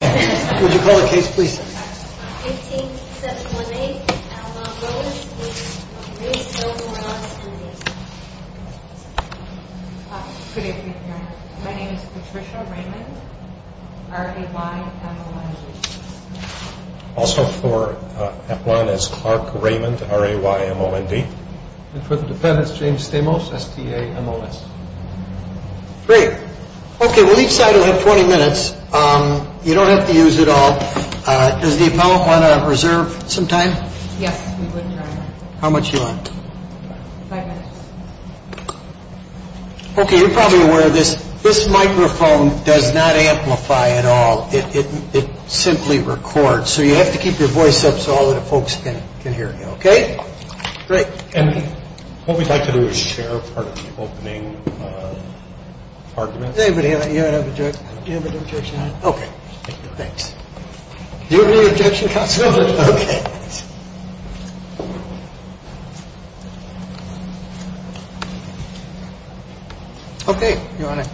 Would you call the case, please? 18-718, Aplan-Wilis v. Morales v. Davis. Good evening, Your Honor. My name is Patricia Raymond, R-A-Y-M-O-N-D. Also for Aplan is Clark Raymond, R-A-Y-M-O-N-D. And for the defendants, James Stamos, S-T-A-M-O-S. Great. Okay, well each side will have 20 minutes. You don't have to use it all. Does the appellant want to reserve some time? Yes, we would, Your Honor. How much do you want? Five minutes. Okay, you're probably aware of this. This microphone does not amplify at all. It simply records. So you have to keep your voice up so all of the folks can hear you, okay? Great. And what we'd like to do is share part of the opening argument. Does anybody have an objection? Do you have an objection? Okay. Thanks. Do you have any objection, counsel? No objection. Okay. Okay, Your Honor.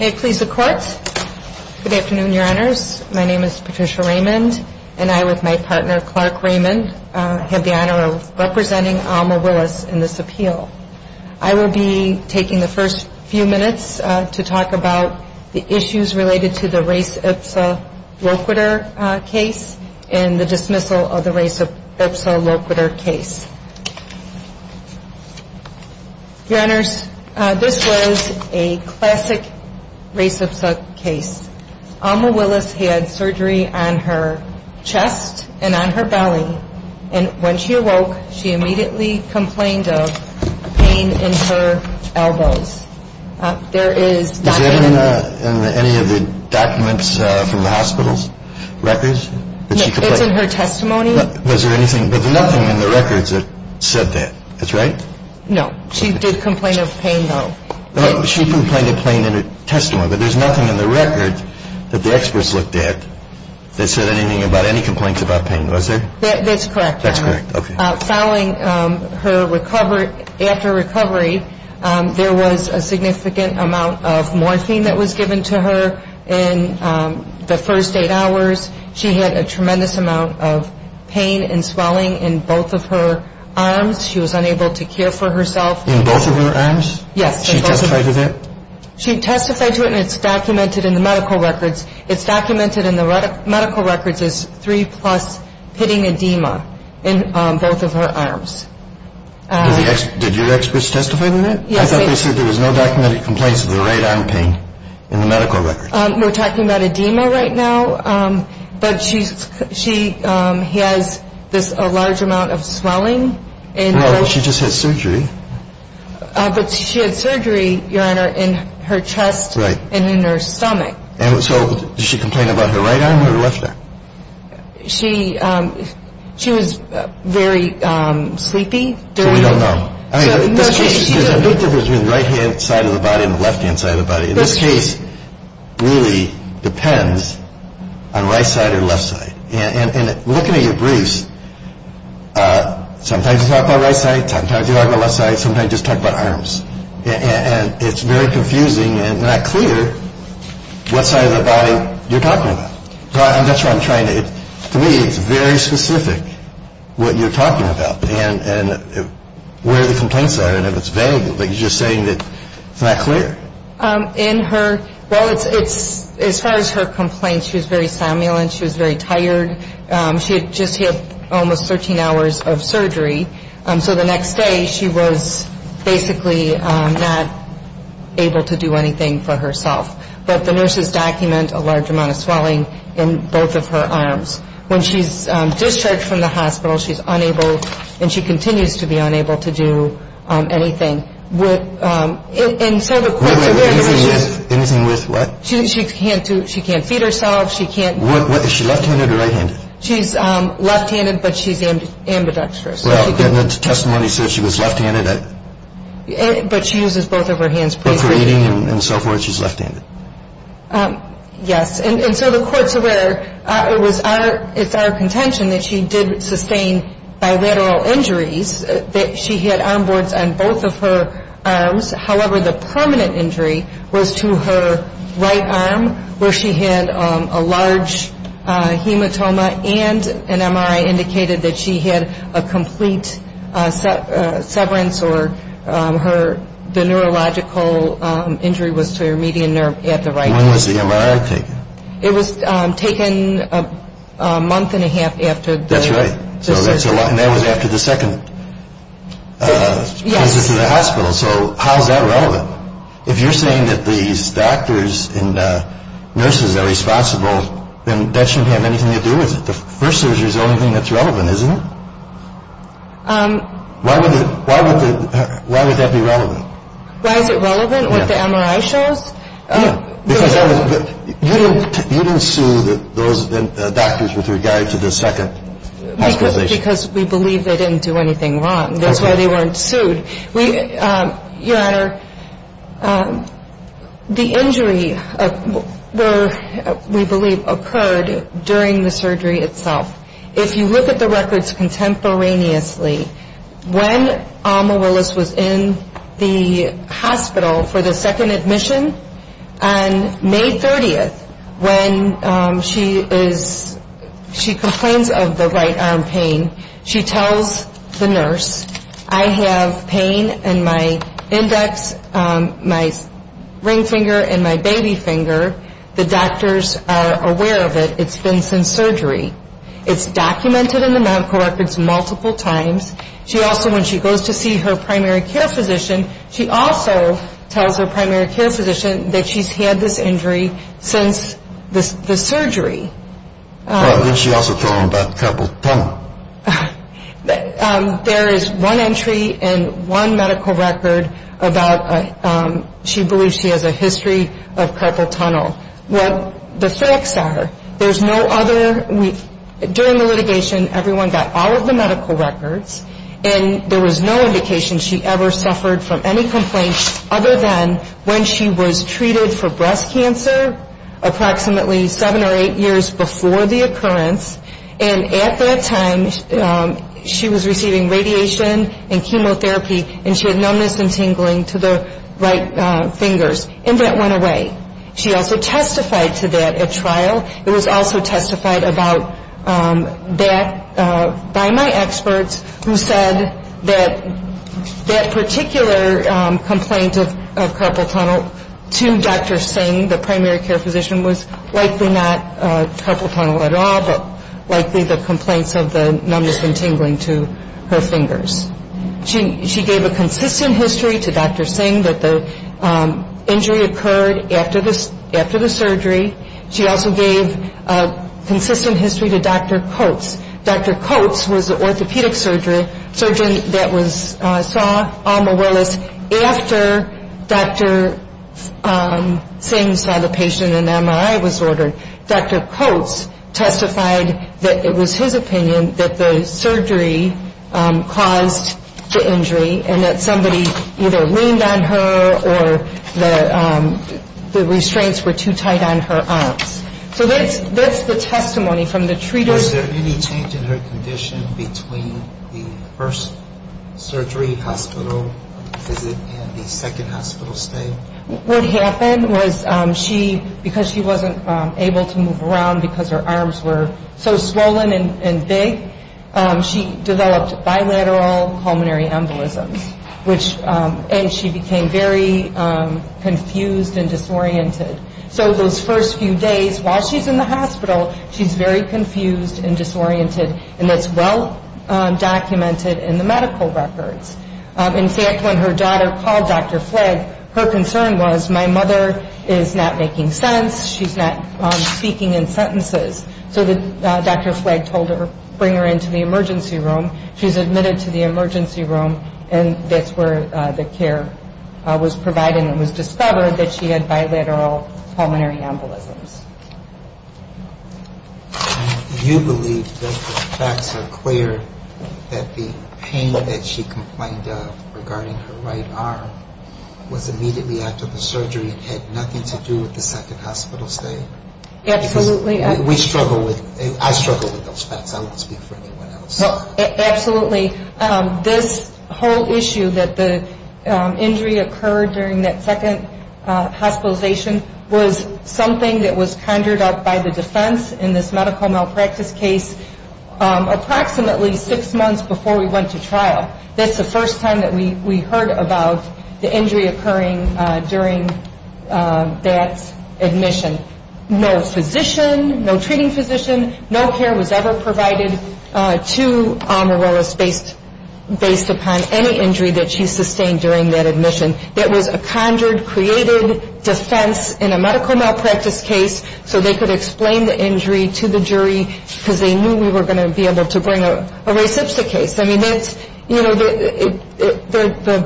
May it please the Court. Good afternoon, Your Honors. My name is Patricia Raymond, and I, with my partner Clark Raymond, have the honor of representing Alma Willis in this appeal. I will be taking the first few minutes to talk about the issues related to the race ipsa loquitur case and the dismissal of the race ipsa loquitur case. Your Honors, this was a classic race ipsa case. Alma Willis had surgery on her chest and on her belly, and when she awoke, she immediately complained of pain in her elbows. There is document in it. Is that in any of the documents from the hospital's records that she complained? No, it's in her testimony. Was there anything, but nothing in the records that said that. That's right? No. She did complain of pain, though. She complained of pain in her testimony, but there's nothing in the records that the experts looked at that said anything about any complaints about pain. Was there? That's correct, Your Honor. That's correct. Following her recovery, after recovery, there was a significant amount of morphine that was given to her in the first eight hours. She had a tremendous amount of pain and swelling in both of her arms. She was unable to care for herself. In both of her arms? Yes. She testified to that? She testified to it, and it's documented in the medical records. It's documented in the medical records as three-plus pitting edema in both of her arms. Did your experts testify to that? Yes. I thought they said there was no documented complaints of the right arm pain in the medical records. We're talking about edema right now, but she has a large amount of swelling. Well, she just had surgery. But she had surgery, Your Honor, in her chest and in her stomach. So did she complain about her right arm or her left arm? She was very sleepy. So we don't know. I mean, there's a big difference between the right-hand side of the body and the left-hand side of the body. This case really depends on right side or left side. And looking at your briefs, sometimes you talk about right side, sometimes you talk about left side, sometimes you just talk about arms. And it's very confusing and not clear what side of the body you're talking about. To me, it's very specific what you're talking about and where the complaints are. And if it's vague, like you're just saying, it's not clear. In her ñ well, it's ñ as far as her complaints, she was very stimulant. She was very tired. She had just had almost 13 hours of surgery. So the next day, she was basically not able to do anything for herself. But the nurses document a large amount of swelling in both of her arms. When she's discharged from the hospital, she's unable, and she continues to be unable to do anything. And so the court's aware that she's ñ Anything with what? She can't do ñ she can't feed herself. She can't ñ Is she left-handed or right-handed? She's left-handed, but she's ambidextrous. Well, didn't the testimony say she was left-handed? But she uses both of her hands basically. But for eating and so forth, she's left-handed. Yes. And so the court's aware it was our ñ it's our contention that she did sustain bilateral injuries, that she had arm boards on both of her arms. However, the permanent injury was to her right arm, where she had a large hematoma, and an MRI indicated that she had a complete severance or her ñ the neurological injury was to her median nerve at the right arm. When was the MRI taken? It was taken a month and a half after the ñ That's right. And that was after the second visit to the hospital. So how is that relevant? If you're saying that these doctors and nurses are responsible, then that shouldn't have anything to do with it. The first surgery is the only thing that's relevant, isn't it? Why would the ñ why would that be relevant? Why is it relevant, what the MRI shows? You didn't sue those doctors with regard to the second hospitalization? Because we believe they didn't do anything wrong. That's why they weren't sued. Your Honor, the injury were ñ we believe occurred during the surgery itself. If you look at the records contemporaneously, when Alma Willis was in the hospital for the second admission on May 30th, when she is ñ she complains of the right arm pain, she tells the nurse, I have pain in my index, my ring finger, and my baby finger. The doctors are aware of it. It's been since surgery. It's documented in the medical records multiple times. She also, when she goes to see her primary care physician, she also tells her primary care physician that she's had this injury since the surgery. Then she also told them about the carpal tunnel. There is one entry in one medical record about ñ she believes she has a history of carpal tunnel. Well, the facts are there's no other ñ during the litigation, everyone got all of the medical records, and there was no indication she ever suffered from any complaints other than when she was treated for breast cancer approximately seven or eight years before the occurrence. And at that time, she was receiving radiation and chemotherapy, and she had numbness and tingling to the right fingers, and that went away. She also testified to that at trial. It was also testified about that by my experts, who said that that particular complaint of carpal tunnel to Dr. Singh, the primary care physician, was likely not carpal tunnel at all, but likely the complaints of the numbness and tingling to her fingers. She gave a consistent history to Dr. Singh that the injury occurred after the surgery. She also gave a consistent history to Dr. Coates. Dr. Coates was the orthopedic surgeon that saw Alma Willis after Dr. Singh saw the patient and MRI was ordered. Dr. Coates testified that it was his opinion that the surgery caused the injury and that somebody either leaned on her or the restraints were too tight on her arms. So that's the testimony from the treaters. Was there any change in her condition between the first surgery hospital visit and the second hospital stay? What happened was she, because she wasn't able to move around because her arms were so swollen and big, she developed bilateral pulmonary embolisms, and she became very confused and disoriented. So those first few days while she's in the hospital, she's very confused and disoriented, and that's well documented in the medical records. In fact, when her daughter called Dr. Flagg, her concern was, my mother is not making sense, she's not speaking in sentences. So Dr. Flagg told her, bring her into the emergency room. She's admitted to the emergency room, and that's where the care was provided and it was discovered that she had bilateral pulmonary embolisms. You believe that the facts are clear that the pain that she complained of regarding her right arm was immediately after the surgery and had nothing to do with the second hospital stay? Absolutely. Because we struggle with, I struggle with those facts. I won't speak for anyone else. Absolutely. This whole issue that the injury occurred during that second hospitalization was something that was conjured up by the defense in this medical malpractice case approximately six months before we went to trial. That's the first time that we heard about the injury occurring during that admission. No physician, no treating physician, no care was ever provided to Amaryllis based upon any injury that she sustained during that admission. That was a conjured, created defense in a medical malpractice case so they could explain the injury to the jury because they knew we were going to be able to bring a res ipsa case. I mean, the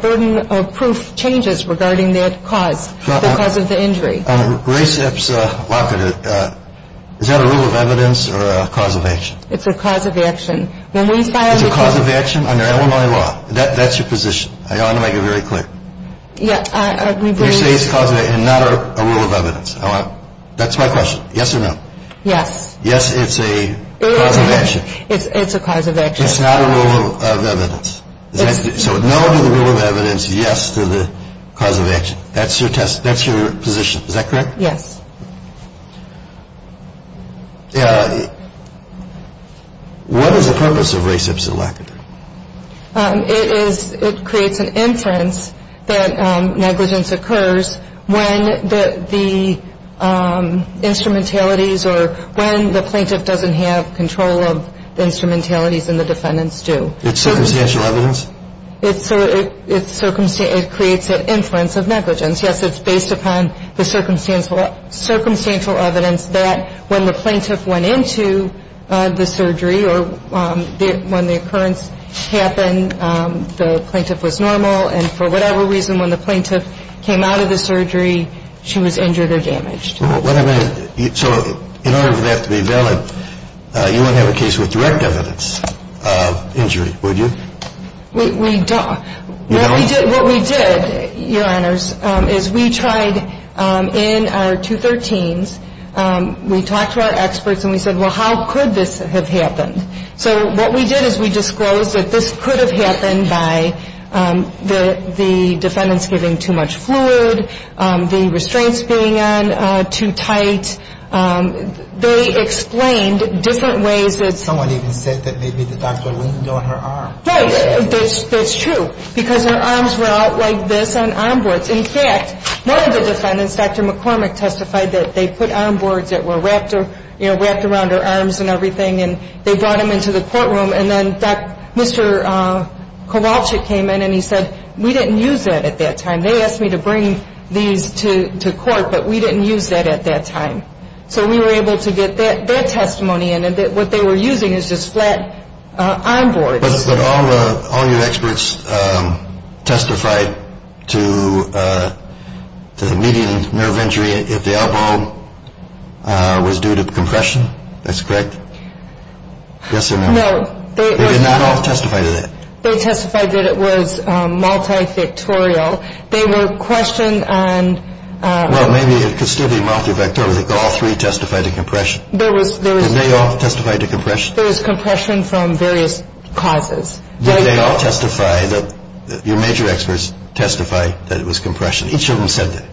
burden of proof changes regarding that cause, the cause of the injury. Res ipsa, is that a rule of evidence or a cause of action? It's a cause of action. It's a cause of action under Illinois law. That's your position. I want to make it very clear. You say it's a cause of action and not a rule of evidence. That's my question. Yes or no? Yes. Yes, it's a cause of action. It's a cause of action. It's not a rule of evidence. So no to the rule of evidence, yes to the cause of action. That's your position. Is that correct? Yes. What is the purpose of res ipsa lacata? It creates an inference that negligence occurs when the instrumentalities or when the plaintiff doesn't have control of the instrumentalities and the defendants do. It's circumstantial evidence? It creates an inference of negligence. Yes, it's based upon the circumstantial evidence. It's circumstantial evidence that when the plaintiff went into the surgery or when the occurrence happened, the plaintiff was normal, and for whatever reason when the plaintiff came out of the surgery, she was injured or damaged. So in order for that to be valid, you wouldn't have a case with direct evidence of injury, would you? We don't. What we did, Your Honors, is we tried in our 213s, we talked to our experts and we said, well, how could this have happened? So what we did is we disclosed that this could have happened by the defendants giving too much fluid, the restraints being on too tight. They explained different ways that someone even said that maybe the doctor leaned on her arm. That's true, because her arms were out like this on armboards. In fact, one of the defendants, Dr. McCormick, testified that they put armboards that were wrapped around her arms and everything and they brought them into the courtroom. And then Mr. Kowalczyk came in and he said, we didn't use that at that time. They asked me to bring these to court, but we didn't use that at that time. So we were able to get that testimony, and what they were using is just flat armboards. But all your experts testified to the median nerve injury if the elbow was due to compression. That's correct? Yes or no? No. They did not all testify to that? They testified that it was multivectorial. They were questioned on – Well, maybe it could still be multivectorial. I think all three testified to compression. Did they all testify to compression? There was compression from various causes. Did they all testify – your major experts testify that it was compression? Each of them said that.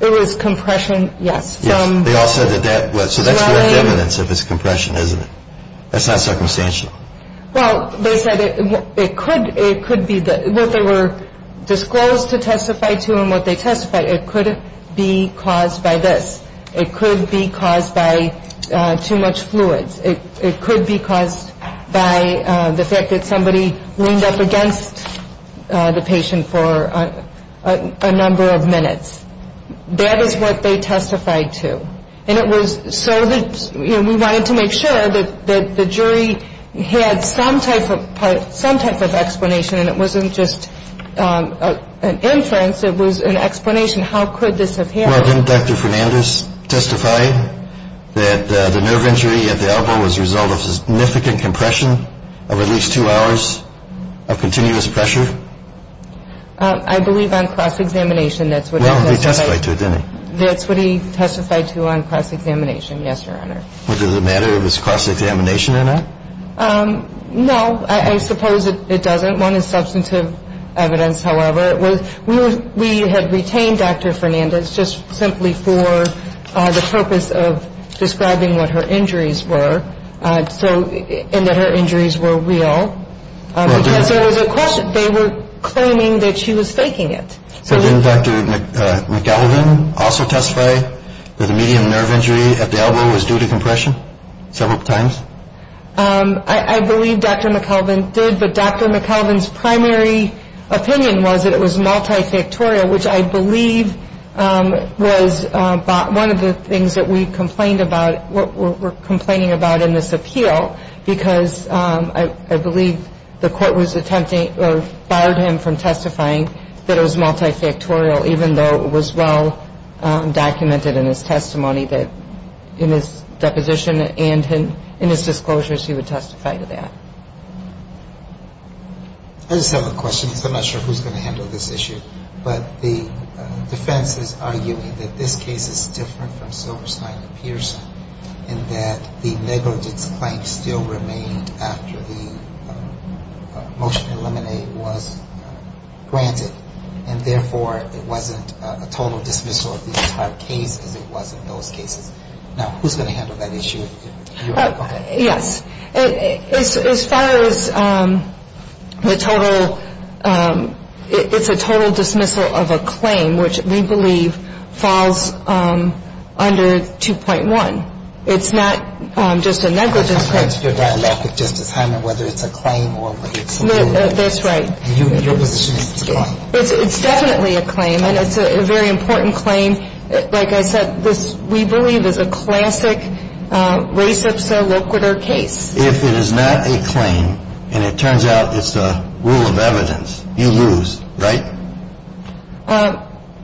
It was compression, yes. Yes. They all said that that was. So that's direct evidence of his compression, isn't it? That's not circumstantial. Well, they said it could be – what they were disclosed to testify to and what they testified. It could be caused by this. It could be caused by too much fluids. It could be caused by the fact that somebody leaned up against the patient for a number of minutes. That is what they testified to. And it was so that we wanted to make sure that the jury had some type of explanation, and it wasn't just an inference, it was an explanation how could this have happened. Well, didn't Dr. Fernandez testify that the nerve injury at the elbow was a result of significant compression of at least two hours of continuous pressure? I believe on cross-examination that's what he testified to. Well, he testified to it, didn't he? That's what he testified to on cross-examination, yes, Your Honor. Was it a matter of his cross-examination or not? No, I suppose it doesn't. One is substantive evidence, however. We had retained Dr. Fernandez just simply for the purpose of describing what her injuries were and that her injuries were real. So it was a question. They were claiming that she was faking it. So didn't Dr. McKelvin also testify that the median nerve injury at the elbow was due to compression several times? I believe Dr. McKelvin did, but Dr. McKelvin's primary opinion was that it was multifactorial, which I believe was one of the things that we complained about, what we're complaining about in this appeal, because I believe the court was attempting or barred him from testifying that it was multifactorial, even though it was well documented in his testimony that in his deposition and in his disclosures he would testify to that. I just have a question because I'm not sure who's going to handle this issue, but the defense is arguing that this case is different from Silverstein and Pearson in that the negligence claim still remained after the motion to eliminate was granted and therefore it wasn't a total dismissal of the entire case as it was in those cases. Now, who's going to handle that issue? You are. Go ahead. Yes. As far as the total, it's a total dismissal of a claim, which we believe falls under 2.1. It's not just a negligence claim. That's part of your dialogue with Justice Hyman, whether it's a claim or whether it's not. That's right. Your position is it's a claim. It's definitely a claim, and it's a very important claim. Like I said, this, we believe, is a classic res ipsa loquitur case. If it is not a claim and it turns out it's a rule of evidence, you lose, right?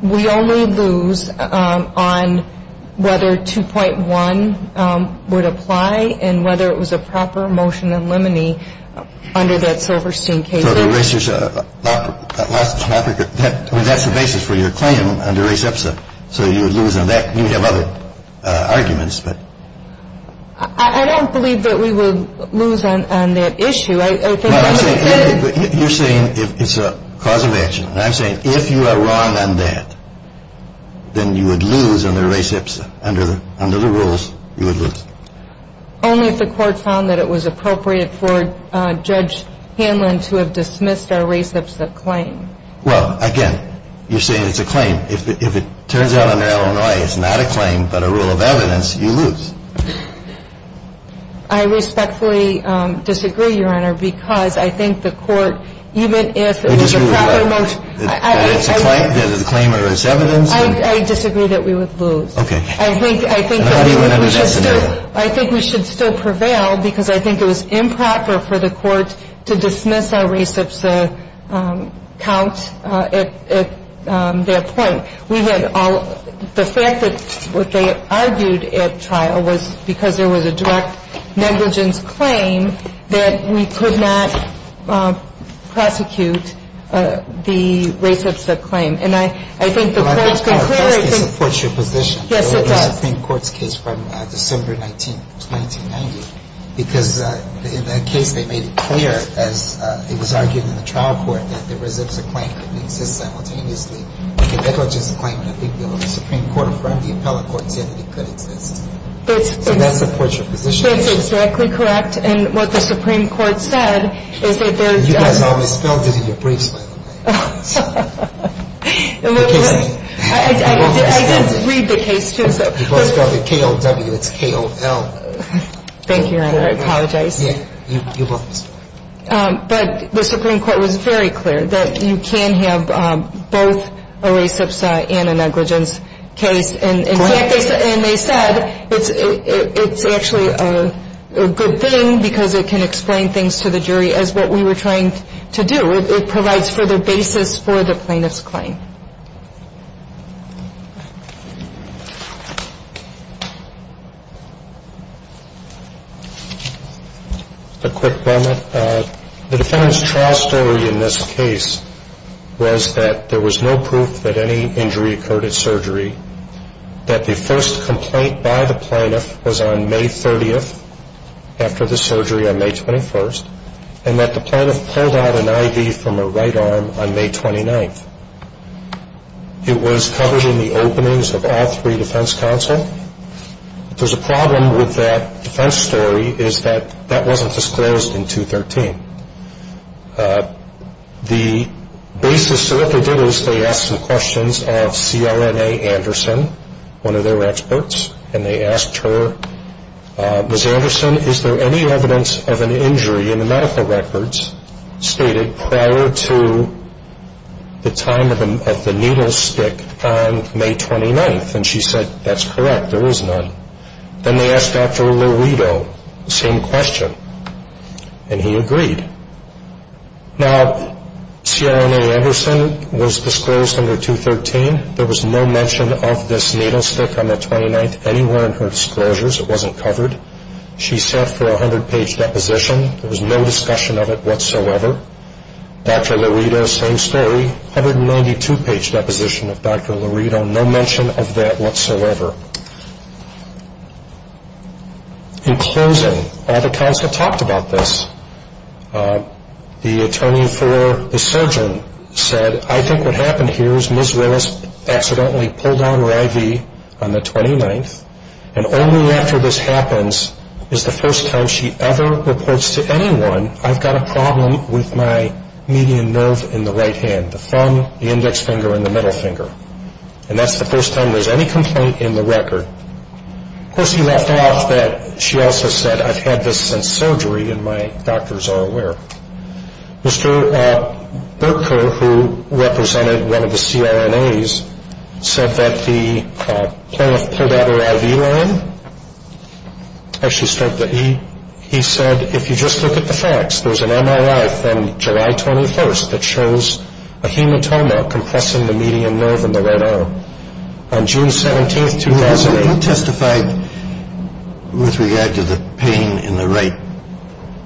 We only lose on whether 2.1 would apply and whether it was a proper motion to eliminate under that Silverstein case. So the res ipsa loquitur, that's the basis for your claim under res ipsa. So you would lose on that. You have other arguments, but. I don't believe that we would lose on that issue. You're saying it's a cause of action. I'm saying if you are wrong on that, then you would lose under res ipsa. Under the rules, you would lose. Only if the Court found that it was appropriate for Judge Hanlon to have dismissed our res ipsa claim. Well, again, you're saying it's a claim. If it turns out under Illinois it's not a claim but a rule of evidence, you lose. I respectfully disagree, Your Honor, because I think the Court, even if it was a proper motion. I disagree with that. That it's a claim or it's evidence. I disagree that we would lose. Okay. I think we should still prevail because I think it was improper for the Court to dismiss our res ipsa count at that point. We had all, the fact that what they argued at trial was because there was a direct negligence claim that we could not prosecute the res ipsa claim. And I think the Court's been clear. But I think the Court supports your position. Yes, it does. The Supreme Court's case from December 19, 1990, because in that case they made it clear as it was argued in the trial court that the res ipsa claim couldn't exist simultaneously. The negligence claim, I think the Supreme Court affirmed, the appellate court said that it could exist. So that supports your position. That's exactly correct. And what the Supreme Court said is that there's. You guys always spelled it in your briefs, by the way. I did read the case, too. You both spelled it K-O-W, it's K-O-L. Thank you, Your Honor. I apologize. You both. But the Supreme Court was very clear that you can have both a res ipsa and a negligence case. Go ahead. And they said it's actually a good thing because it can explain things to the jury as what we were trying to do. It provides further basis for the plaintiff's claim. A quick comment. The defendant's trial story in this case was that there was no proof that any injury occurred at surgery, that the first complaint by the plaintiff was on May 30th after the surgery on May 21st, and that the plaintiff pulled out an IV from her right arm on May 29th. It was covered in the openings of all three defense counsel. There's a problem with that defense story is that that wasn't disclosed in 213. The basis to what they did is they asked some questions of C.R.N.A. Anderson, one of their experts, and they asked her, Ms. Anderson, is there any evidence of an injury in the medical records stated prior to the time of the needle stick on May 29th? And she said, that's correct, there is none. Then they asked Dr. Louito the same question, and he agreed. Now, C.R.N.A. Anderson was disclosed under 213. There was no mention of this needle stick on the 29th anywhere in her disclosures. It wasn't covered. She sat for a 100-page deposition. There was no discussion of it whatsoever. Dr. Louito, same story, 192-page deposition of Dr. Louito, no mention of that whatsoever. In closing, all the counsel talked about this. The attorney for the surgeon said, I think what happened here is Ms. Willis accidentally pulled down her IV on the 29th, and only after this happens is the first time she ever reports to anyone, I've got a problem with my median nerve in the right hand, the thumb, the index finger, and the middle finger. And that's the first time there's any complaint in the record. Of course, he left off that she also said, I've had this since surgery, and my doctors are aware. Mr. Berko, who represented one of the C.R.N.A.'s, said that the plaintiff pulled out her IV line. Actually, he said, if you just look at the facts, there's an MRI from July 21st that shows a hematoma compressing the median nerve in the right arm. On June 17th, 2008. Who testified with regard to the pain in the right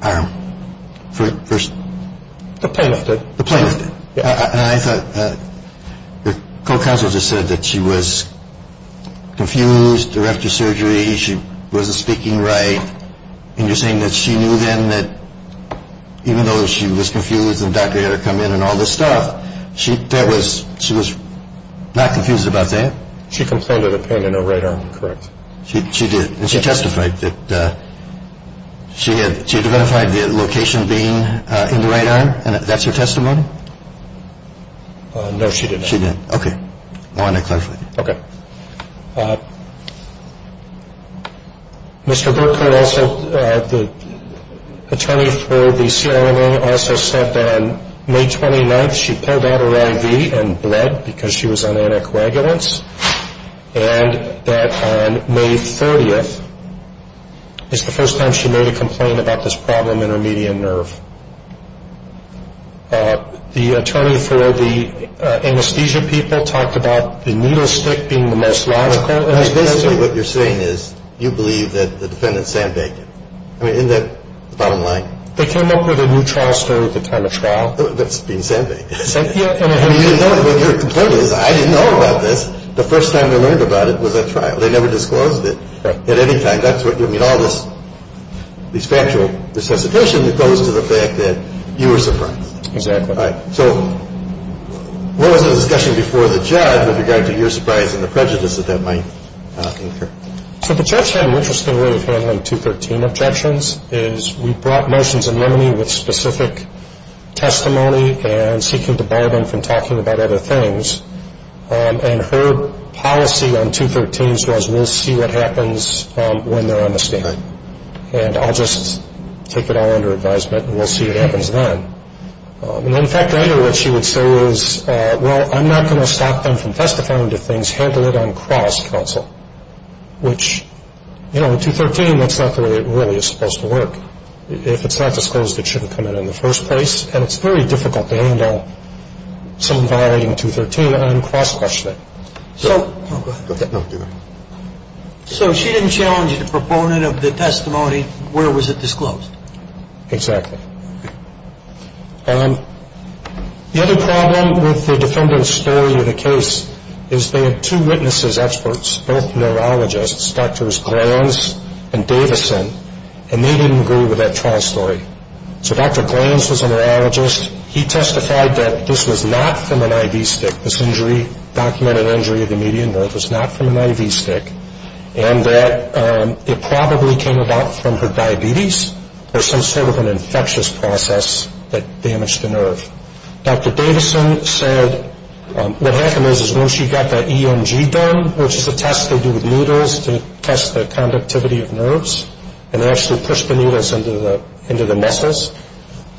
arm? The plaintiff did. The plaintiff did. And I thought, your co-counsel just said that she was confused or after surgery, she wasn't speaking right, and you're saying that she knew then that even though she was confused and the doctor had to come in and all this stuff, she was not confused about that? She complained of the pain in her right arm, correct. She did. And she testified that she had identified the location being in the right arm, and that's her testimony? No, she did not. She didn't. Okay. I wanted to clarify. Okay. Mr. Burkert also, the attorney for the CRNA, also said that on May 29th, she pulled out her IV and bled because she was on anticoagulants, and that on May 30th is the first time she made a complaint about this problem in her median nerve. The attorney for the anesthesia people talked about the needle stick being the most logical. Basically what you're saying is you believe that the defendant sandbagged you. I mean, isn't that the bottom line? They came up with a new trial story at the time of trial. That's being sandbagged. I mean, you didn't know it, but your complaint is I didn't know about this. The first time I learned about it was at trial. They never disclosed it at any time. So the judge had an interesting way of handling 213 objections. We brought motions in limine with specific testimony and seeking to bar them from talking about other things. And her policy on 213s was we'll see what happens when we get to the end of the sentence. We're not going to do that. And I'll just take it all under advisement, and we'll see what happens then. In fact, I know what she would say is, well, I'm not going to stop them from testifying to things, handle it on cross-counsel, which, you know, 213, that's not the way it really is supposed to work. If it's not disclosed, it shouldn't come out in the first place, and it's very difficult to handle someone violating 213 on cross-questioning. So she didn't challenge the proponent of the testimony. Where was it disclosed? Exactly. The other problem with the defendant's story in the case is they had two witnesses, experts, both neurologists, Drs. Glanz and Davison, and they didn't agree with that trial story. So Dr. Glanz was a neurologist. He testified that this was not from an IV stick, this injury, documented injury of the median nerve was not from an IV stick, and that it probably came about from her diabetes or some sort of an infectious process that damaged the nerve. Dr. Davison said what happened was when she got that EMG done, which is a test they do with needles to test the conductivity of nerves, and they actually push the needles into the muscles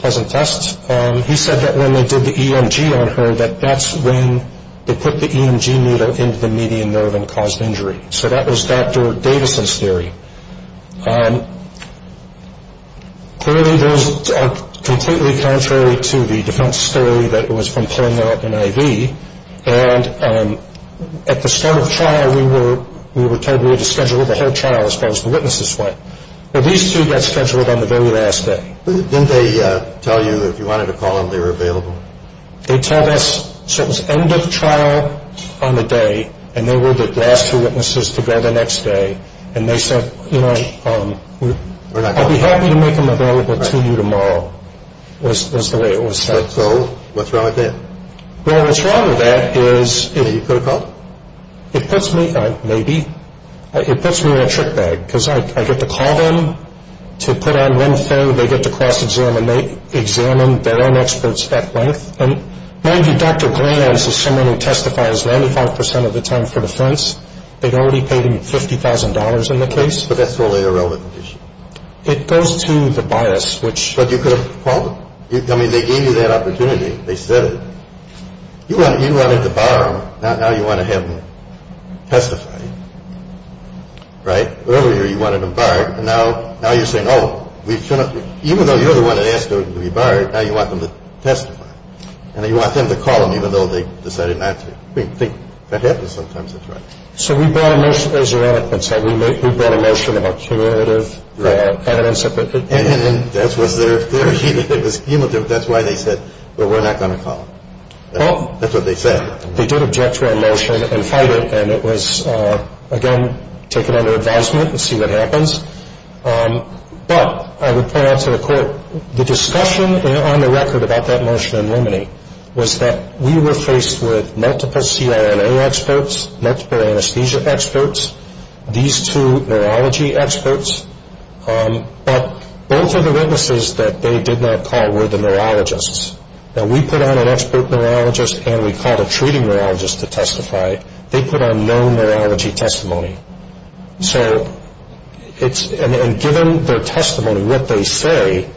as a test. He said that when they did the EMG on her, that that's when they put the EMG needle into the median nerve and caused injury. So that was Dr. Davison's theory. Clearly, those are completely contrary to the defense story that it was from pulling out an IV, and at the start of trial, we were told we had to schedule the whole trial as far as the witnesses went. Now, these two got scheduled on the very last day. Didn't they tell you if you wanted to call them, they were available? They told us. So it was end of trial on the day, and they were the last two witnesses to go the next day, and they said, you know, I'd be happy to make them available to you tomorrow, was the way it was said. So what's wrong with that? Well, what's wrong with that is it puts me in a trick bag, because I get to call them to put on info. They get to cross-examine. They examine their own experts at length, and mind you, Dr. Glantz is someone who testifies 95 percent of the time for defense. They'd already paid him $50,000 in the case. But that's totally irrelevant. It goes to the bias, which— But you could have called them. I mean, they gave you that opportunity. They said it. You wanted to bar them. Now you want to have them testify, right? Earlier you wanted them barred, and now you're saying, oh, we shouldn't— even though you're the one that asked them to be barred, now you want them to testify, and you want them to call them even though they decided not to. I think that happens sometimes. That's right. So we brought a motion, as your advocate said, we brought a motion of accumulative evidence. And that was their theory. It was cumulative. That's why they said, well, we're not going to call them. That's what they said. They did object to our motion and fight it, and it was, again, taken under advisement. We'll see what happens. But I would point out to the court, the discussion on the record about that motion in Rimini was that we were faced with multiple CRNA experts, multiple anesthesia experts, these two neurology experts. But both of the witnesses that they did not call were the neurologists. Now, we put on an expert neurologist, and we called a treating neurologist to testify. They put on no neurology testimony. So it's—and given their testimony, what they say,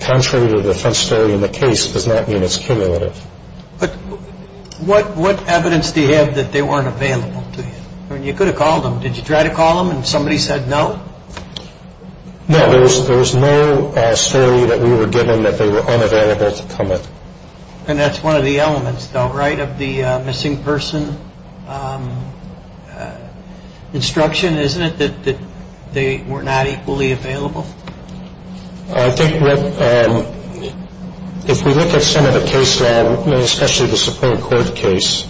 contrary to the front story in the case, does not mean it's cumulative. But what evidence do you have that they weren't available to you? I mean, you could have called them. Did you try to call them, and somebody said no? No. There was no story that we were given that they were unavailable to comment. And that's one of the elements, though, right, of the missing person instruction, isn't it, that they were not equally available? I think what—if we look at some of the case law, especially the Supreme Court case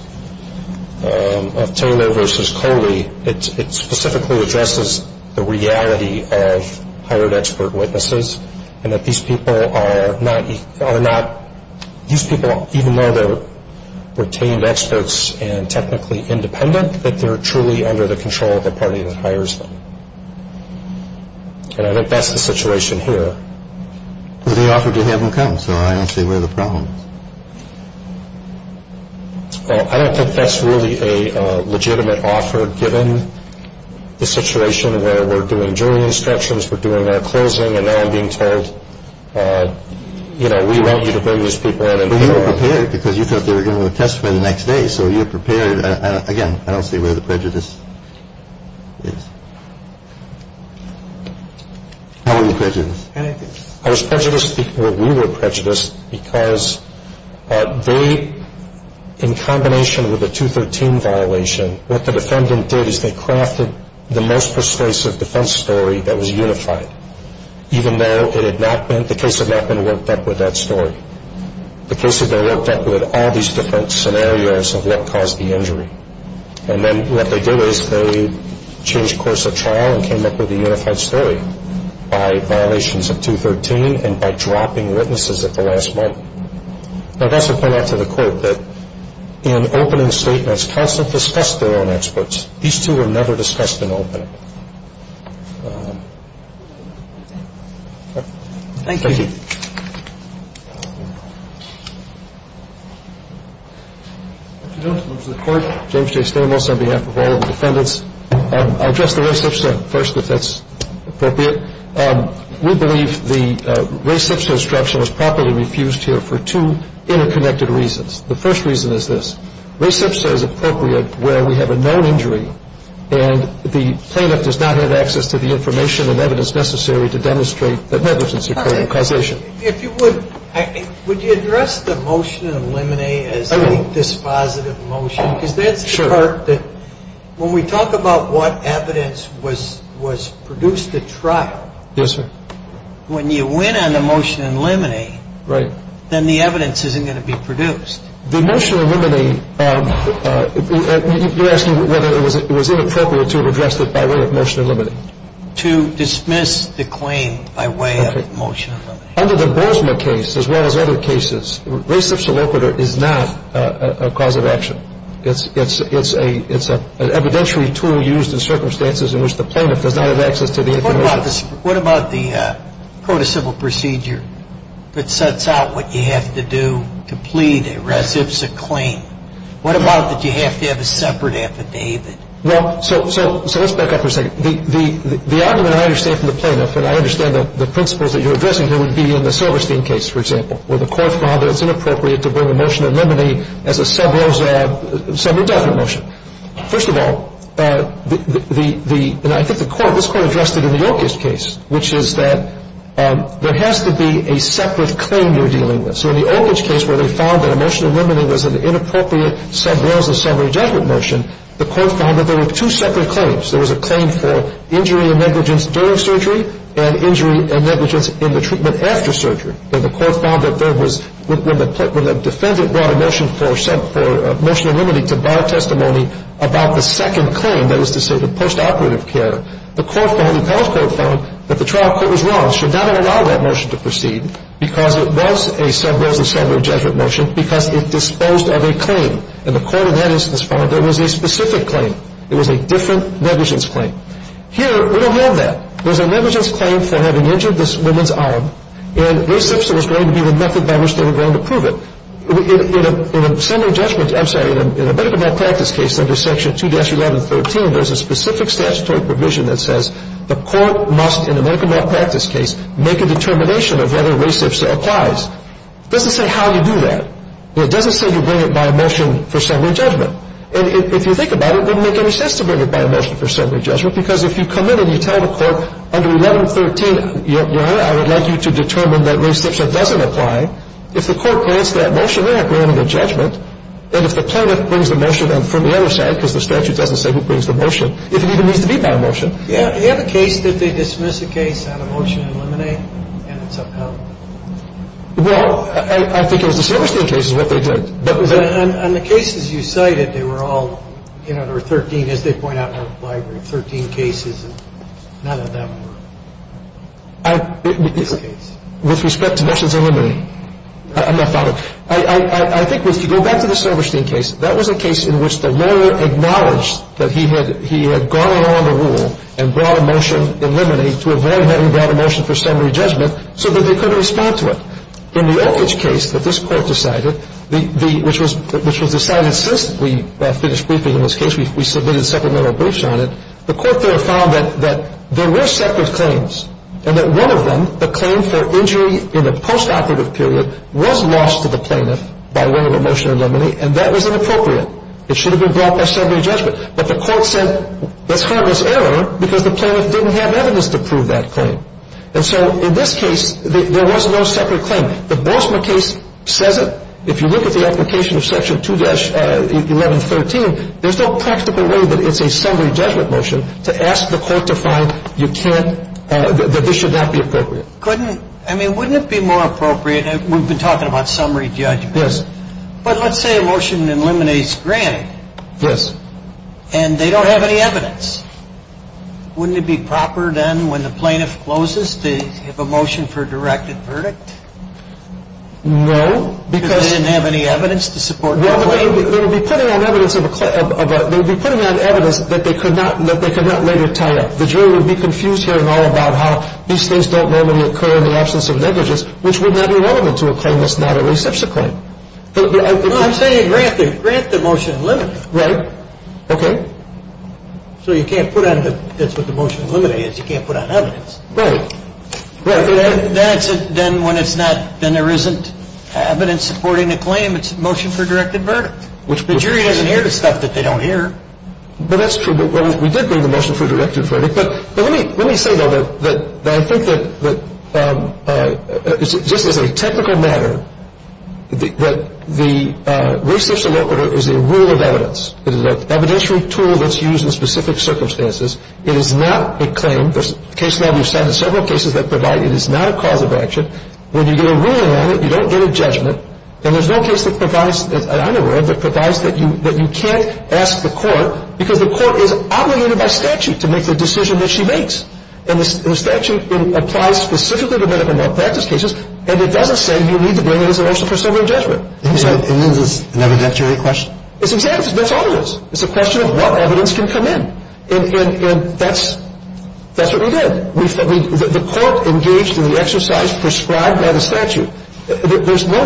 of Taylor v. Coley, it specifically addresses the reality of hired expert witnesses and that these people are not—these people, even though they're retained experts and technically independent, that they're truly under the control of the party that hires them. And I think that's the situation here. But they offered to have them come, so I don't see where the problem is. Well, I don't think that's really a legitimate offer, given the situation where we're doing jury instructions, we're doing our closing, and now I'm being told, you know, we want you to bring these people in and— But you were prepared because you thought they were going to have a testimony the next day, so you were prepared. Again, I don't see where the prejudice is. How were you prejudiced? I was prejudiced—well, we were prejudiced because they, in combination with the 213 violation, what the defendant did is they crafted the most persuasive defense story that was unified, even though it had not been—the case had not been worked up with that story. The case had been worked up with all these different scenarios of what caused the injury. And then what they did is they changed course of trial and came up with a unified story by violations of 213 and by dropping witnesses at the last moment. Now, that's a point out to the court that in opening statements, counsel have discussed their own experts. These two were never discussed in opening. Thank you. Mr. Jones, members of the Court, James J. Stamos on behalf of all of the defendants. I'll address the res ipsa first, if that's appropriate. We believe the res ipsa instruction was properly refused here for two interconnected reasons. The first reason is this. Res ipsa is appropriate where we have a known injury and the plaintiff does not have access to the information and evidence necessary to demonstrate that negligence occurred in causation of the injury. If you would, would you address the motion in limine as a dispositive motion? Because that's the part that when we talk about what evidence was produced at trial, when you win on the motion in limine, then the evidence isn't going to be produced. The motion in limine, you're asking whether it was inappropriate to have addressed it by way of motion in limine. To dismiss the claim by way of motion in limine. Under the Bozma case, as well as other cases, res ipsa loquitur is not a cause of action. It's an evidentiary tool used in circumstances in which the plaintiff does not have access to the information. What about the code of civil procedure that sets out what you have to do to plead a res ipsa claim? What about that you have to have a separate affidavit? Well, so let's back up for a second. The argument I understand from the plaintiff, and I understand the principles that you're addressing here, would be in the Silverstein case, for example, where the court found that it's inappropriate to bring a motion in limine as a summary judgment motion. First of all, and I think the court, this court addressed it in the Oakage case, which is that there has to be a separate claim you're dealing with. So in the Oakage case where they found that a motion in limine was an inappropriate sub rules of summary judgment motion, the court found that there were two separate claims. There was a claim for injury and negligence during surgery, and injury and negligence in the treatment after surgery. And the court found that there was, when the defendant brought a motion for motion in limine to bar testimony about the second claim, that is to say the post-operative care, the court found, the appellate court found, that the trial court was wrong. It should not have allowed that motion to proceed because it was a sub rules of summary judgment motion, because it disposed of a claim. And the court in that instance found there was a specific claim. It was a different negligence claim. Here, we don't have that. There's a negligence claim for having injured this woman's arm, and res ipsa was going to be the method by which they were going to prove it. In a summary judgment, I'm sorry, in a medical malpractice case under Section 2-1113, there's a specific statutory provision that says the court must, in a medical malpractice case, make a determination of whether res ipsa applies. It doesn't say how you do that. It doesn't say you bring it by a motion for summary judgment. And if you think about it, it wouldn't make any sense to bring it by a motion for summary judgment because if you come in and you tell the court under 1113, Your Honor, I would like you to determine that res ipsa doesn't apply, if the court grants that motion, they are granted a judgment. And if the plaintiff brings the motion from the other side, because the statute doesn't say who brings the motion, if it even needs to be by a motion. And so in this case, there was no separate claim. The Bozma case says it. If you look at the application of Section 2-1113, there's no practical way that it's a summary judgment motion to ask the court to find you can't, that this should not be appropriate. Couldn't, I mean, wouldn't it be more appropriate, we've been talking about summary judgment. Yes. But let's say a motion eliminates granting. Yes. And they don't have any evidence. Wouldn't it be proper then when the plaintiff closes to have a motion for a directed verdict? No. Because they didn't have any evidence to support their claim. Well, they would be putting on evidence that they could not later tie up. The jury would be confused hearing all about how these things don't normally occur in the absence of negligence, which would not be relevant to a claim that's not a res ipsa claim. I'm saying grant the motion and limit it. Right. Okay. So you can't put on the, that's what the motion eliminate is, you can't put on evidence. Right. Right. Then when it's not, then there isn't evidence supporting the claim, it's a motion for a directed verdict. The jury doesn't hear the stuff that they don't hear. Well, that's true, but we did bring the motion for a directed verdict. But let me say, though, that I think that just as a technical matter, that the res ipsa law order is a rule of evidence. It is an evidentiary tool that's used in specific circumstances. It is not a claim. There's case law, we've cited several cases that provide it is not a cause of action. When you get a ruling on it, you don't get a judgment. And there's no case that provides, that I'm aware of, that provides that you can't ask the court, because the court is obligated by statute to make the decision that she makes. And the statute applies specifically to medical malpractice cases, and it doesn't say you need to bring it as a motion for summary judgment. It means it's an evidentiary question? That's all it is. It's a question of what evidence can come in. And that's what we did. The court engaged in the exercise prescribed by the statute. There's no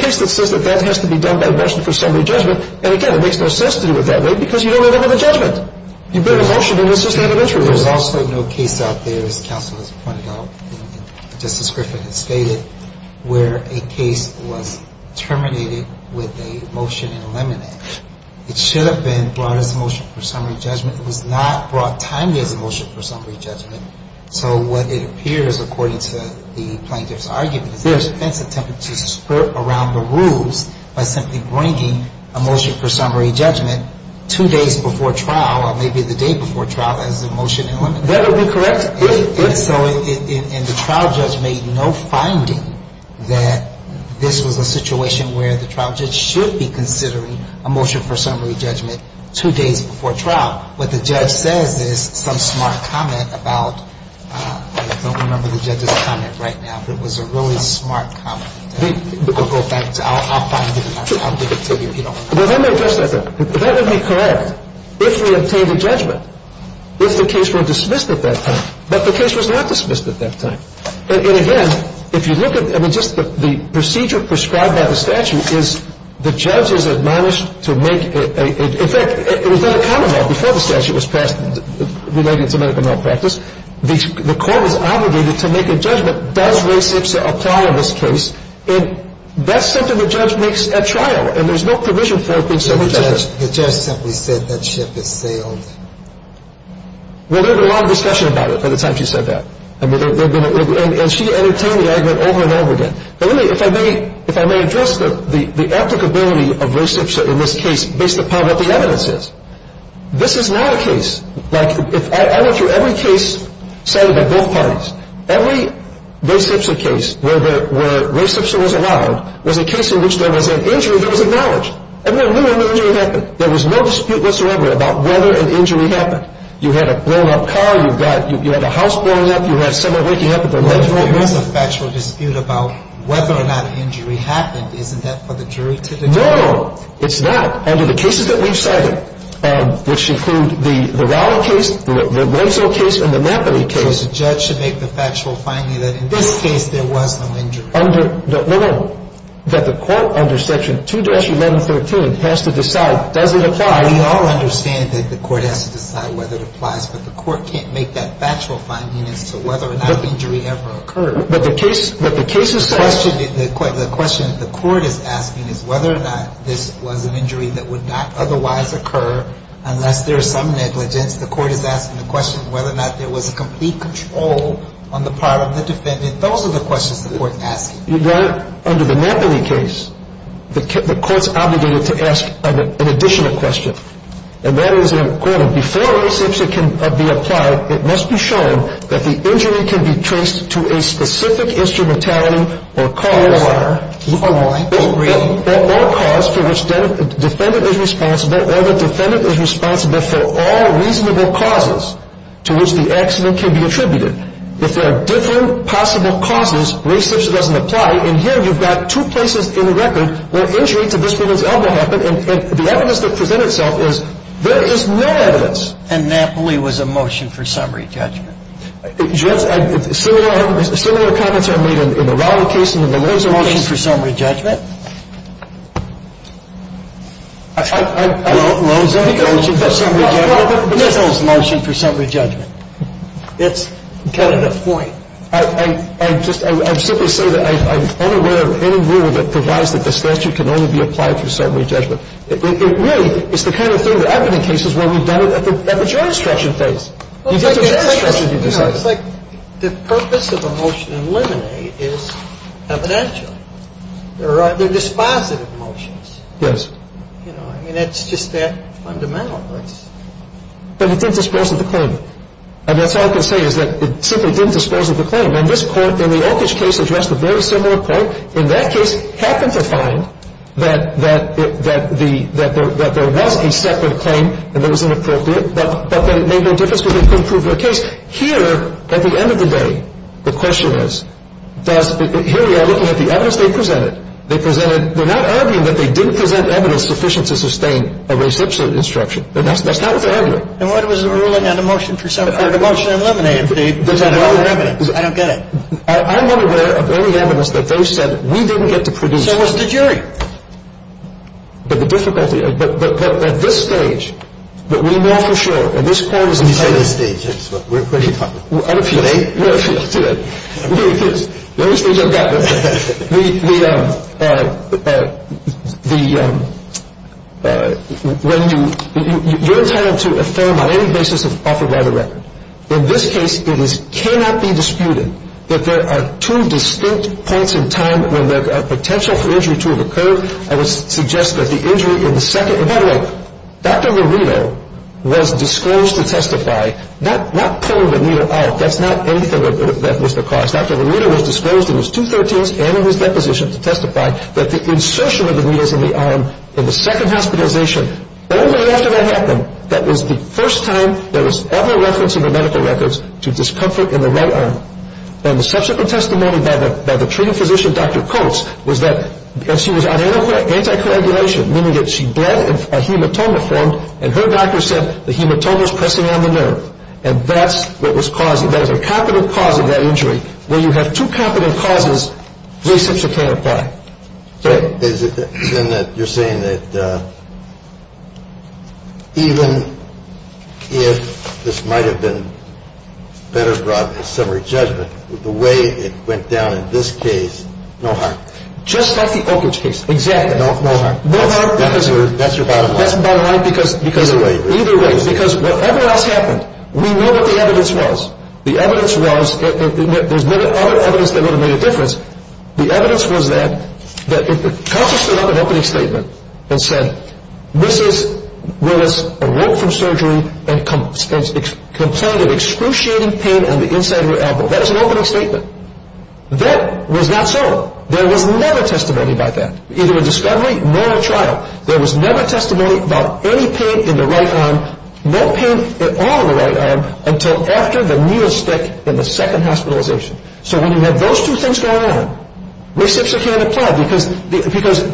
case that says that that has to be done by motion for summary judgment. And, again, it makes no sense to do it that way, because you don't end up with a judgment. You bring a motion, and it's just that eventually. There's also no case out there, as counsel has pointed out, and Justice Griffin has stated, where a case was terminated with a motion in limine. It should have been brought as a motion for summary judgment. It was not brought timely as a motion for summary judgment. So what it appears, according to the plaintiff's argument, is there has been some attempt to skirt around the rules by simply bringing a motion for summary judgment two days before trial, or maybe the day before trial, as a motion in limine. That would be correct. And so the trial judge made no finding that this was a situation where the trial judge should be considering a motion for summary judgment two days before trial. What the judge says is some smart comment about — I don't remember the judge's comment right now, but it was a really smart comment. We'll go back to — I'll find it, and I'll give it to you, if you don't mind. Well, let me address that, then. That would be correct if we obtained a judgment. If the case were dismissed at that time. But the case was not dismissed at that time. And, again, if you look at — I mean, just the procedure prescribed by the statute is the judge is admonished to make a — in fact, it was not a common law before the statute was passed relating to medical malpractice. The court is obligated to make a judgment, does RAE-SIPSA apply in this case, and that's something the judge makes at trial, and there's no provision for it being summary judgment. The judge simply said that ship is sailed. Well, there was a lot of discussion about it by the time she said that. And she entertained the argument over and over again. But really, if I may address the applicability of RAE-SIPSA in this case based upon what the evidence is, this is not a case — like, I went through every case cited by both parties. Every RAE-SIPSA case where RAE-SIPSA was allowed was a case in which there was an injury that was acknowledged. And there really no injury happened. There was no dispute whatsoever about whether an injury happened. You had a blown-up car. You had a house blown up. You had someone waking up at the lunchroom. Well, if there was a factual dispute about whether or not an injury happened, isn't that for the jury to determine? No. It's not. Under the cases that we've cited, which include the Rowley case, the Rosso case, and the Mappity case — So the judge should make the factual finding that in this case there was no injury. No, no. That the court under Section 2-1113 has to decide, does it apply? We all understand that the court has to decide whether it applies, but the court can't make that factual finding as to whether or not an injury ever occurred. But the case — but the case is cited — The question the court is asking is whether or not this was an injury that would not otherwise occur unless there is some negligence. The court is asking the question whether or not there was a complete control on the part of the defendant. Those are the questions the court is asking. You're right. Under the Mappity case, the court's obligated to ask an additional question. And that is, and I'm quoting, Before an exception can be applied, it must be shown that the injury can be traced to a specific instrumentality or cause — Or why. Or why. Or cause for which the defendant is responsible or the defendant is responsible for all reasonable causes to which the accident can be attributed. If there are different possible causes where such doesn't apply, and here you've got two places in the record where injury to this woman's elbow happened, and the evidence that presents itself is there is no evidence. And Mappity was a motion for summary judgment. Similar comments are made in the Rowley case and in the Loza case. Motion for summary judgment? I don't know. Loza? Motion for summary judgment? Loza's motion for summary judgment. That's kind of the point. I just, I simply say that I'm unaware of any rule that provides that the statute can only be applied for summary judgment. It really is the kind of thing that I've been in cases where we've done it at the jurisdiction phase. It's like the purpose of a motion in limine is evidential. They're dispositive motions. Yes. You know, I mean, it's just that fundamental. But it didn't dispose of the claim. And that's all I can say is that it simply didn't dispose of the claim. And this Court, in the Oakage case, addressed a very similar point. In that case, happened to find that there was a separate claim and it was inappropriate, but that it made no difference because they couldn't prove their case. Here, at the end of the day, the question is, here we are looking at the evidence they presented. They presented, they're not arguing that they didn't present evidence sufficient to sustain a recipient instruction. That's not what they're arguing. And what was the ruling on the motion for summary? The motion eliminated the evidence. I don't get it. I'm unaware of any evidence that they said we didn't get to produce. So was the jury. But the difficulty, at this stage, that we know for sure, and this Court has decided At this stage, yes, we're pretty confident. I'm appealing. You're appealing today. The only stage I've got. When you're entitled to affirm on any basis offered by the record. In this case, it cannot be disputed that there are two distinct points in time when the potential for injury to have occurred. I would suggest that the injury in the second By the way, Dr. Lerido was disclosed to testify. Not pulling the needle out. That's not anything that was the cause. Dr. Lerido was disclosed in his 213s and in his deposition to testify that the insertion of the needles in the arm in the second hospitalization, only after that happened, that was the first time there was ever reference in the medical records to discomfort in the right arm. And the subsequent testimony by the treating physician, Dr. Coates, was that she was on anticoagulation, meaning that she bled and a hematoma formed. And her doctor said the hematoma was pressing on the nerve. And that's what was causing it. That was a capital cause of that injury. When you have two capital causes, three steps you can't apply. Is it then that you're saying that even if this might have been better brought to summary judgment, the way it went down in this case, no harm? Just like the Oak Ridge case. Exactly. No harm. No harm. That's your bottom line. That's the bottom line. Either way. Either way. Because whatever else happened, we knew what the evidence was. The evidence was, there's no other evidence that would have made a difference. The evidence was that Dr. Coates stood up in an opening statement and said, Mrs. Willis awoke from surgery and complained of excruciating pain on the inside of her elbow. That was an opening statement. That was not so. There was never testimony about that, either a discovery nor a trial. There was never testimony about any pain in the right arm, no pain at all in the right arm, until after the needle stick in the second hospitalization. So when you have those two things going on, reception can't apply. Because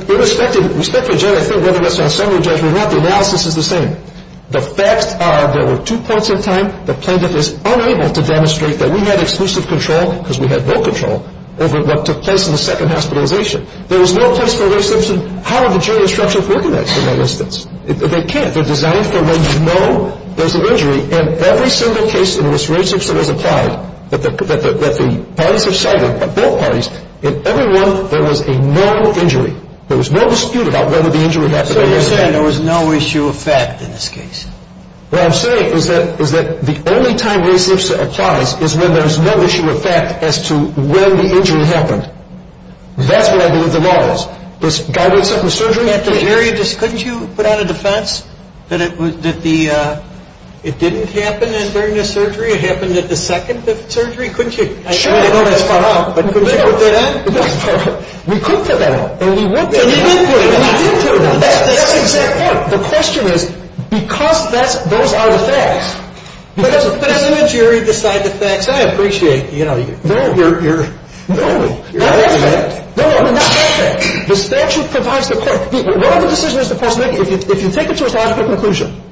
irrespective of whether it's on summary judgment or not, the analysis is the same. The facts are there were two points in time the plaintiff is unable to demonstrate that we had exclusive control, because we had no control, over what took place in the second hospitalization. There was no place for a resubmission. How did the jury instruction work in that instance? They can't. They're designed for when you know there's an injury. In every single case in which resubmission was applied that the parties have cited, both parties, in every one there was a known injury. There was no dispute about whether the injury happened. So you're saying there was no issue of fact in this case? What I'm saying is that the only time resubmission applies is when there's no issue of fact as to when the injury happened. That's what I believe the law is. This guy was up for surgery? Couldn't you put out a defense that it didn't happen during the surgery? It happened at the second surgery, couldn't you? Sure. I know that's far out, but couldn't you put that out? We could put that out. And we did put it out. That's exactly right. The question is, because those are the facts. But doesn't the jury decide the facts? I appreciate, you know. No. No. No. The statute provides the court. If you take it to a logical conclusion,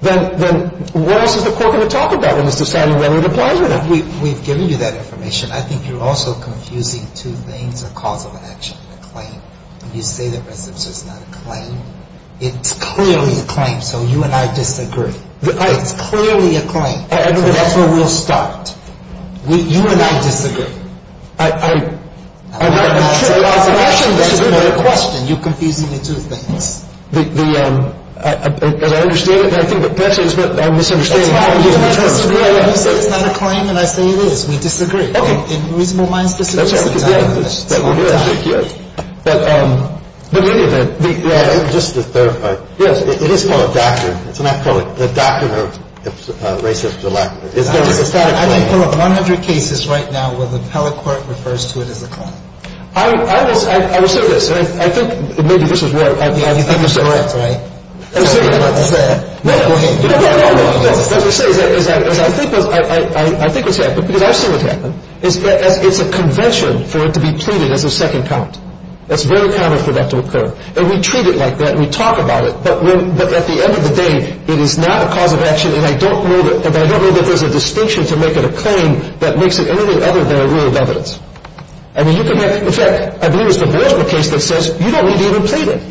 then what else is the court going to talk about when it's deciding whether it applies or not? We've given you that information. I think you're also confusing two things, a cause of action and a claim. When you say that resubmission is not a claim, it's clearly a claim, so you and I disagree. It's clearly a claim. That's where we'll start. You and I disagree. I'm not saying that's a question. That's more a question. You're confusing the two things. As I understand it, perhaps it's my misunderstanding. That's fine. You say it's not a claim, and I say it is. We disagree. Okay. In a reasonable mind, specifically. That's right. I'm just going to clarify. Yes. It is called a doctrine. It's not called a doctrine of racist or lack thereof. It's a static claim. I can pull up 100 cases right now where the appellate court refers to it as a claim. I will say this. I think maybe this is where I'm misdirected. You think you're correct, right? That's what I'm about to say. No, go ahead. No, no, no. What I'm about to say is I think what's happened, because I've seen what's happened, is it's a convention for it to be pleaded as a second count. It's very common for that to occur. And we treat it like that. We talk about it. But at the end of the day, it is not a cause of action, and I don't know that there's a distinction to make it a claim that makes it anything other than a rule of evidence. In fact, I believe it's the Baltimore case that says you don't need to even plead it.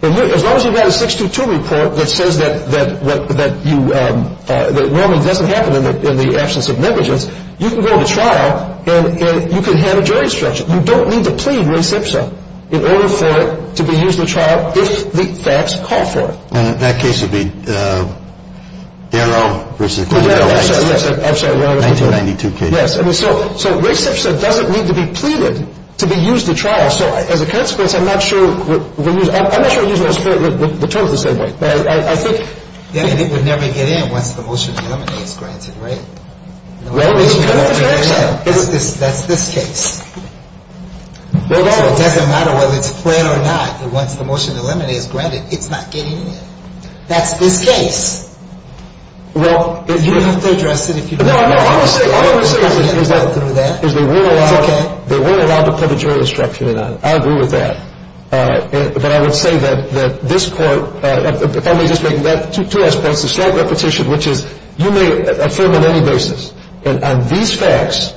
As long as you've got a 622 report that says that whelming doesn't happen in the absence of negligence, you can go to trial and you can have a jury stretch it. You don't need to plead res ipsa in order for it to be used in a trial if the facts call for it. And that case would be Daryl versus Daryl. I'm sorry. 1992 case. Yes. I mean, so res ipsa doesn't need to be pleaded to be used in trial. So as a consequence, I'm not sure we're going to use it. I'm not sure we're going to use the terms the same way. But I think. Then it would never get in once the motion eliminates granted, right? Well, that's this case. It doesn't matter whether it's clear or not. And once the motion eliminates granted, it's not getting in. That's this case. Well, if you have to address it, if you don't. No, no, no. I'm going to say. I'm going to say. They were allowed. They were allowed to put a jury instruction in. I agree with that. But I would say that this court. To us, it's a slight repetition, which is you may affirm on any basis. And on these facts,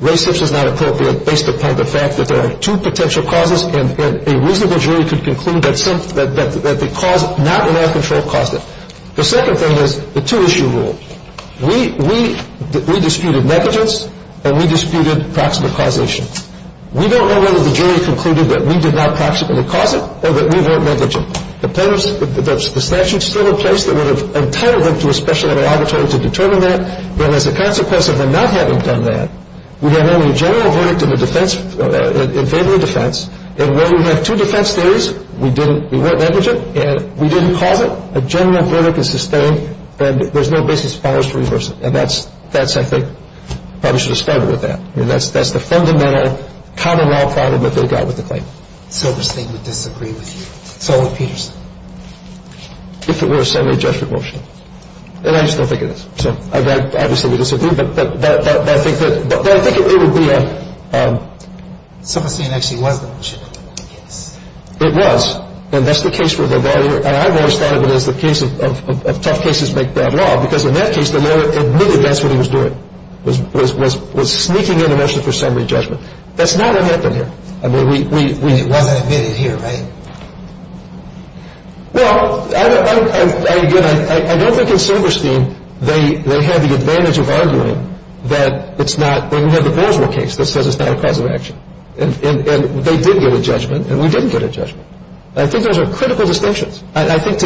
res ipsa is not appropriate based upon the fact that there are two potential causes. And a reasonable jury could conclude that the cause not in our control caused it. The second thing is the two issue rule. We disputed negligence and we disputed proximate causation. We don't know whether the jury concluded that we did not proximately cause it or that we weren't negligent. The statute is still in place that would have entitled them to a special interrogatory to determine that. And as a consequence of them not having done that, we have only a general verdict in favor of defense. And where we have two defense theories, we weren't negligent and we didn't cause it. A general verdict is sustained. And there's no basis for us to reverse it. And that's, I think, probably should have started with that. I mean, that's the fundamental common law problem that they got with the claim. If it were a summary judgment motion, and I still think it is, so I'd obviously disagree, but I think that it would be a. Silverstein actually was the one who should have done the case. It was. And that's the case where the lawyer, and I've always thought of it as the case of tough cases make bad law because in that case, the lawyer admitted that's what he was doing was sneaking in a motion for summary judgment. That's not what happened here. It wasn't admitted here, right? Well, again, I don't think in Silverstein they had the advantage of arguing that it's not. We have the Boerswold case that says it's not a cause of action. And they did get a judgment and we didn't get a judgment. I think those are critical distinctions. I think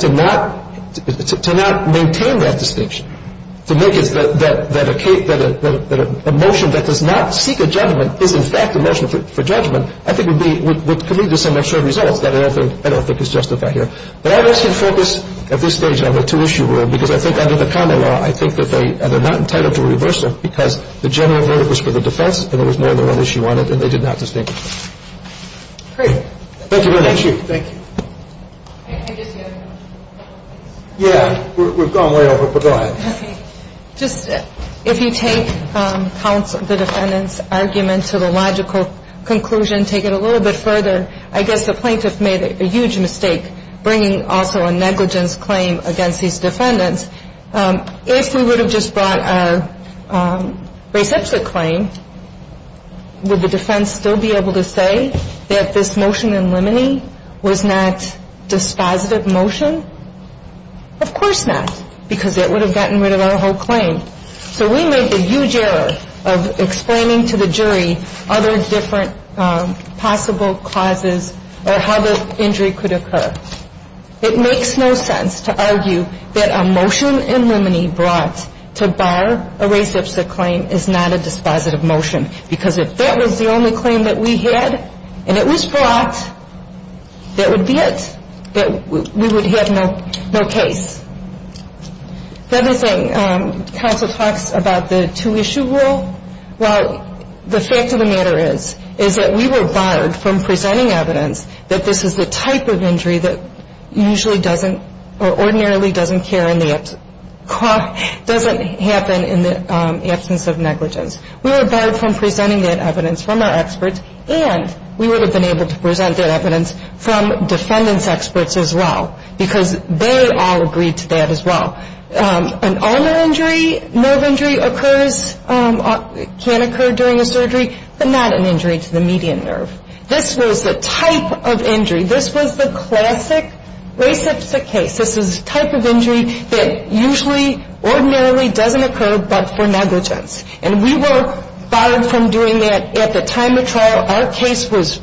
to not maintain that distinction, to make it that a motion that does not seek a judgment is, in fact, a motion for judgment, I think would be, would commit to some extra results that I don't think is justified here. But I would ask you to focus at this stage on the two-issue rule because I think under the common law, I think that they are not entitled to reverse it because the general verdict was for the defense and there was more than one issue on it and they did not distinguish. Great. Thank you very much. Thank you. Thank you. Yeah, we've gone way over, but go ahead. Just if you take counsel, the defendant's argument to the logical conclusion, take it a little bit further, I guess the plaintiff made a huge mistake bringing also a negligence claim against these defendants. If we would have just brought a reciprocate claim, would the defense still be able to say that this motion in limine was not dispositive motion? Of course not because that would have gotten rid of our whole claim. So we made the huge error of explaining to the jury other different possible causes or how the injury could occur. It makes no sense to argue that a motion in limine brought to bar a reciprocate claim is not a dispositive motion because if that was the only claim that we had and it was brought, that would be it. We would have no case. The other thing, counsel talks about the two-issue rule. Well, the fact of the matter is, is that we were barred from presenting evidence that this is the type of injury that usually doesn't or ordinarily doesn't happen in the absence of negligence. We were barred from presenting that evidence from our experts and we would have been able to present that evidence from defendants' experts as well because they all agreed to that as well. An ulnar injury, nerve injury occurs, can occur during a surgery, but not an injury to the median nerve. This was the type of injury. This was the classic reciprocate case. This was the type of injury that usually ordinarily doesn't occur but for negligence. And we were barred from doing that at the time of trial. Our case was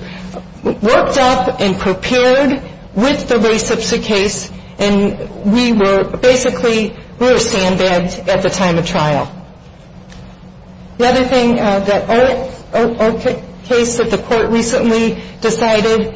worked up and prepared with the reciprocate case and we were basically, we were sandbagged at the time of trial. The other thing that our case that the court recently decided,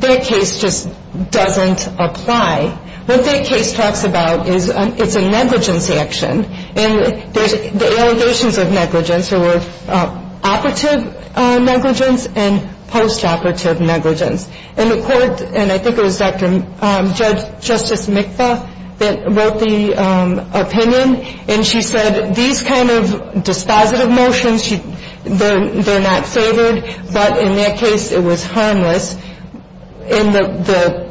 that case just doesn't apply. What that case talks about is it's a negligence action and the allegations of negligence were operative negligence and post-operative negligence. And the court, and I think it was Justice Mikva that wrote the opinion and she said these kind of dispositive motions, they're not favored, but in that case it was harmless. And the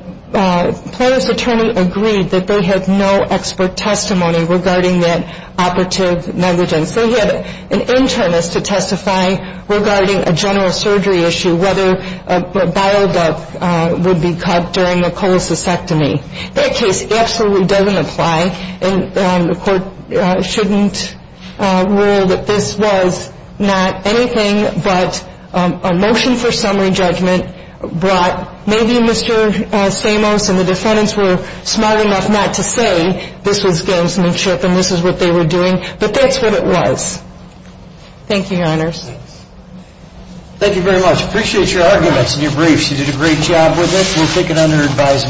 plaintiff's attorney agreed that they had no expert testimony regarding that operative negligence. They had an internist to testify regarding a general surgery issue, whether a bile duct would be cut during a cholecystectomy. That case absolutely doesn't apply and the court shouldn't rule that this was not anything but a motion for summary judgment that brought, maybe Mr. Samos and the defendants were smart enough not to say this was gamesmanship and this is what they were doing, but that's what it was. Thank you, Your Honors. Thank you very much. Appreciate your arguments and your briefs. You did a great job with it. We'll take it under advisement.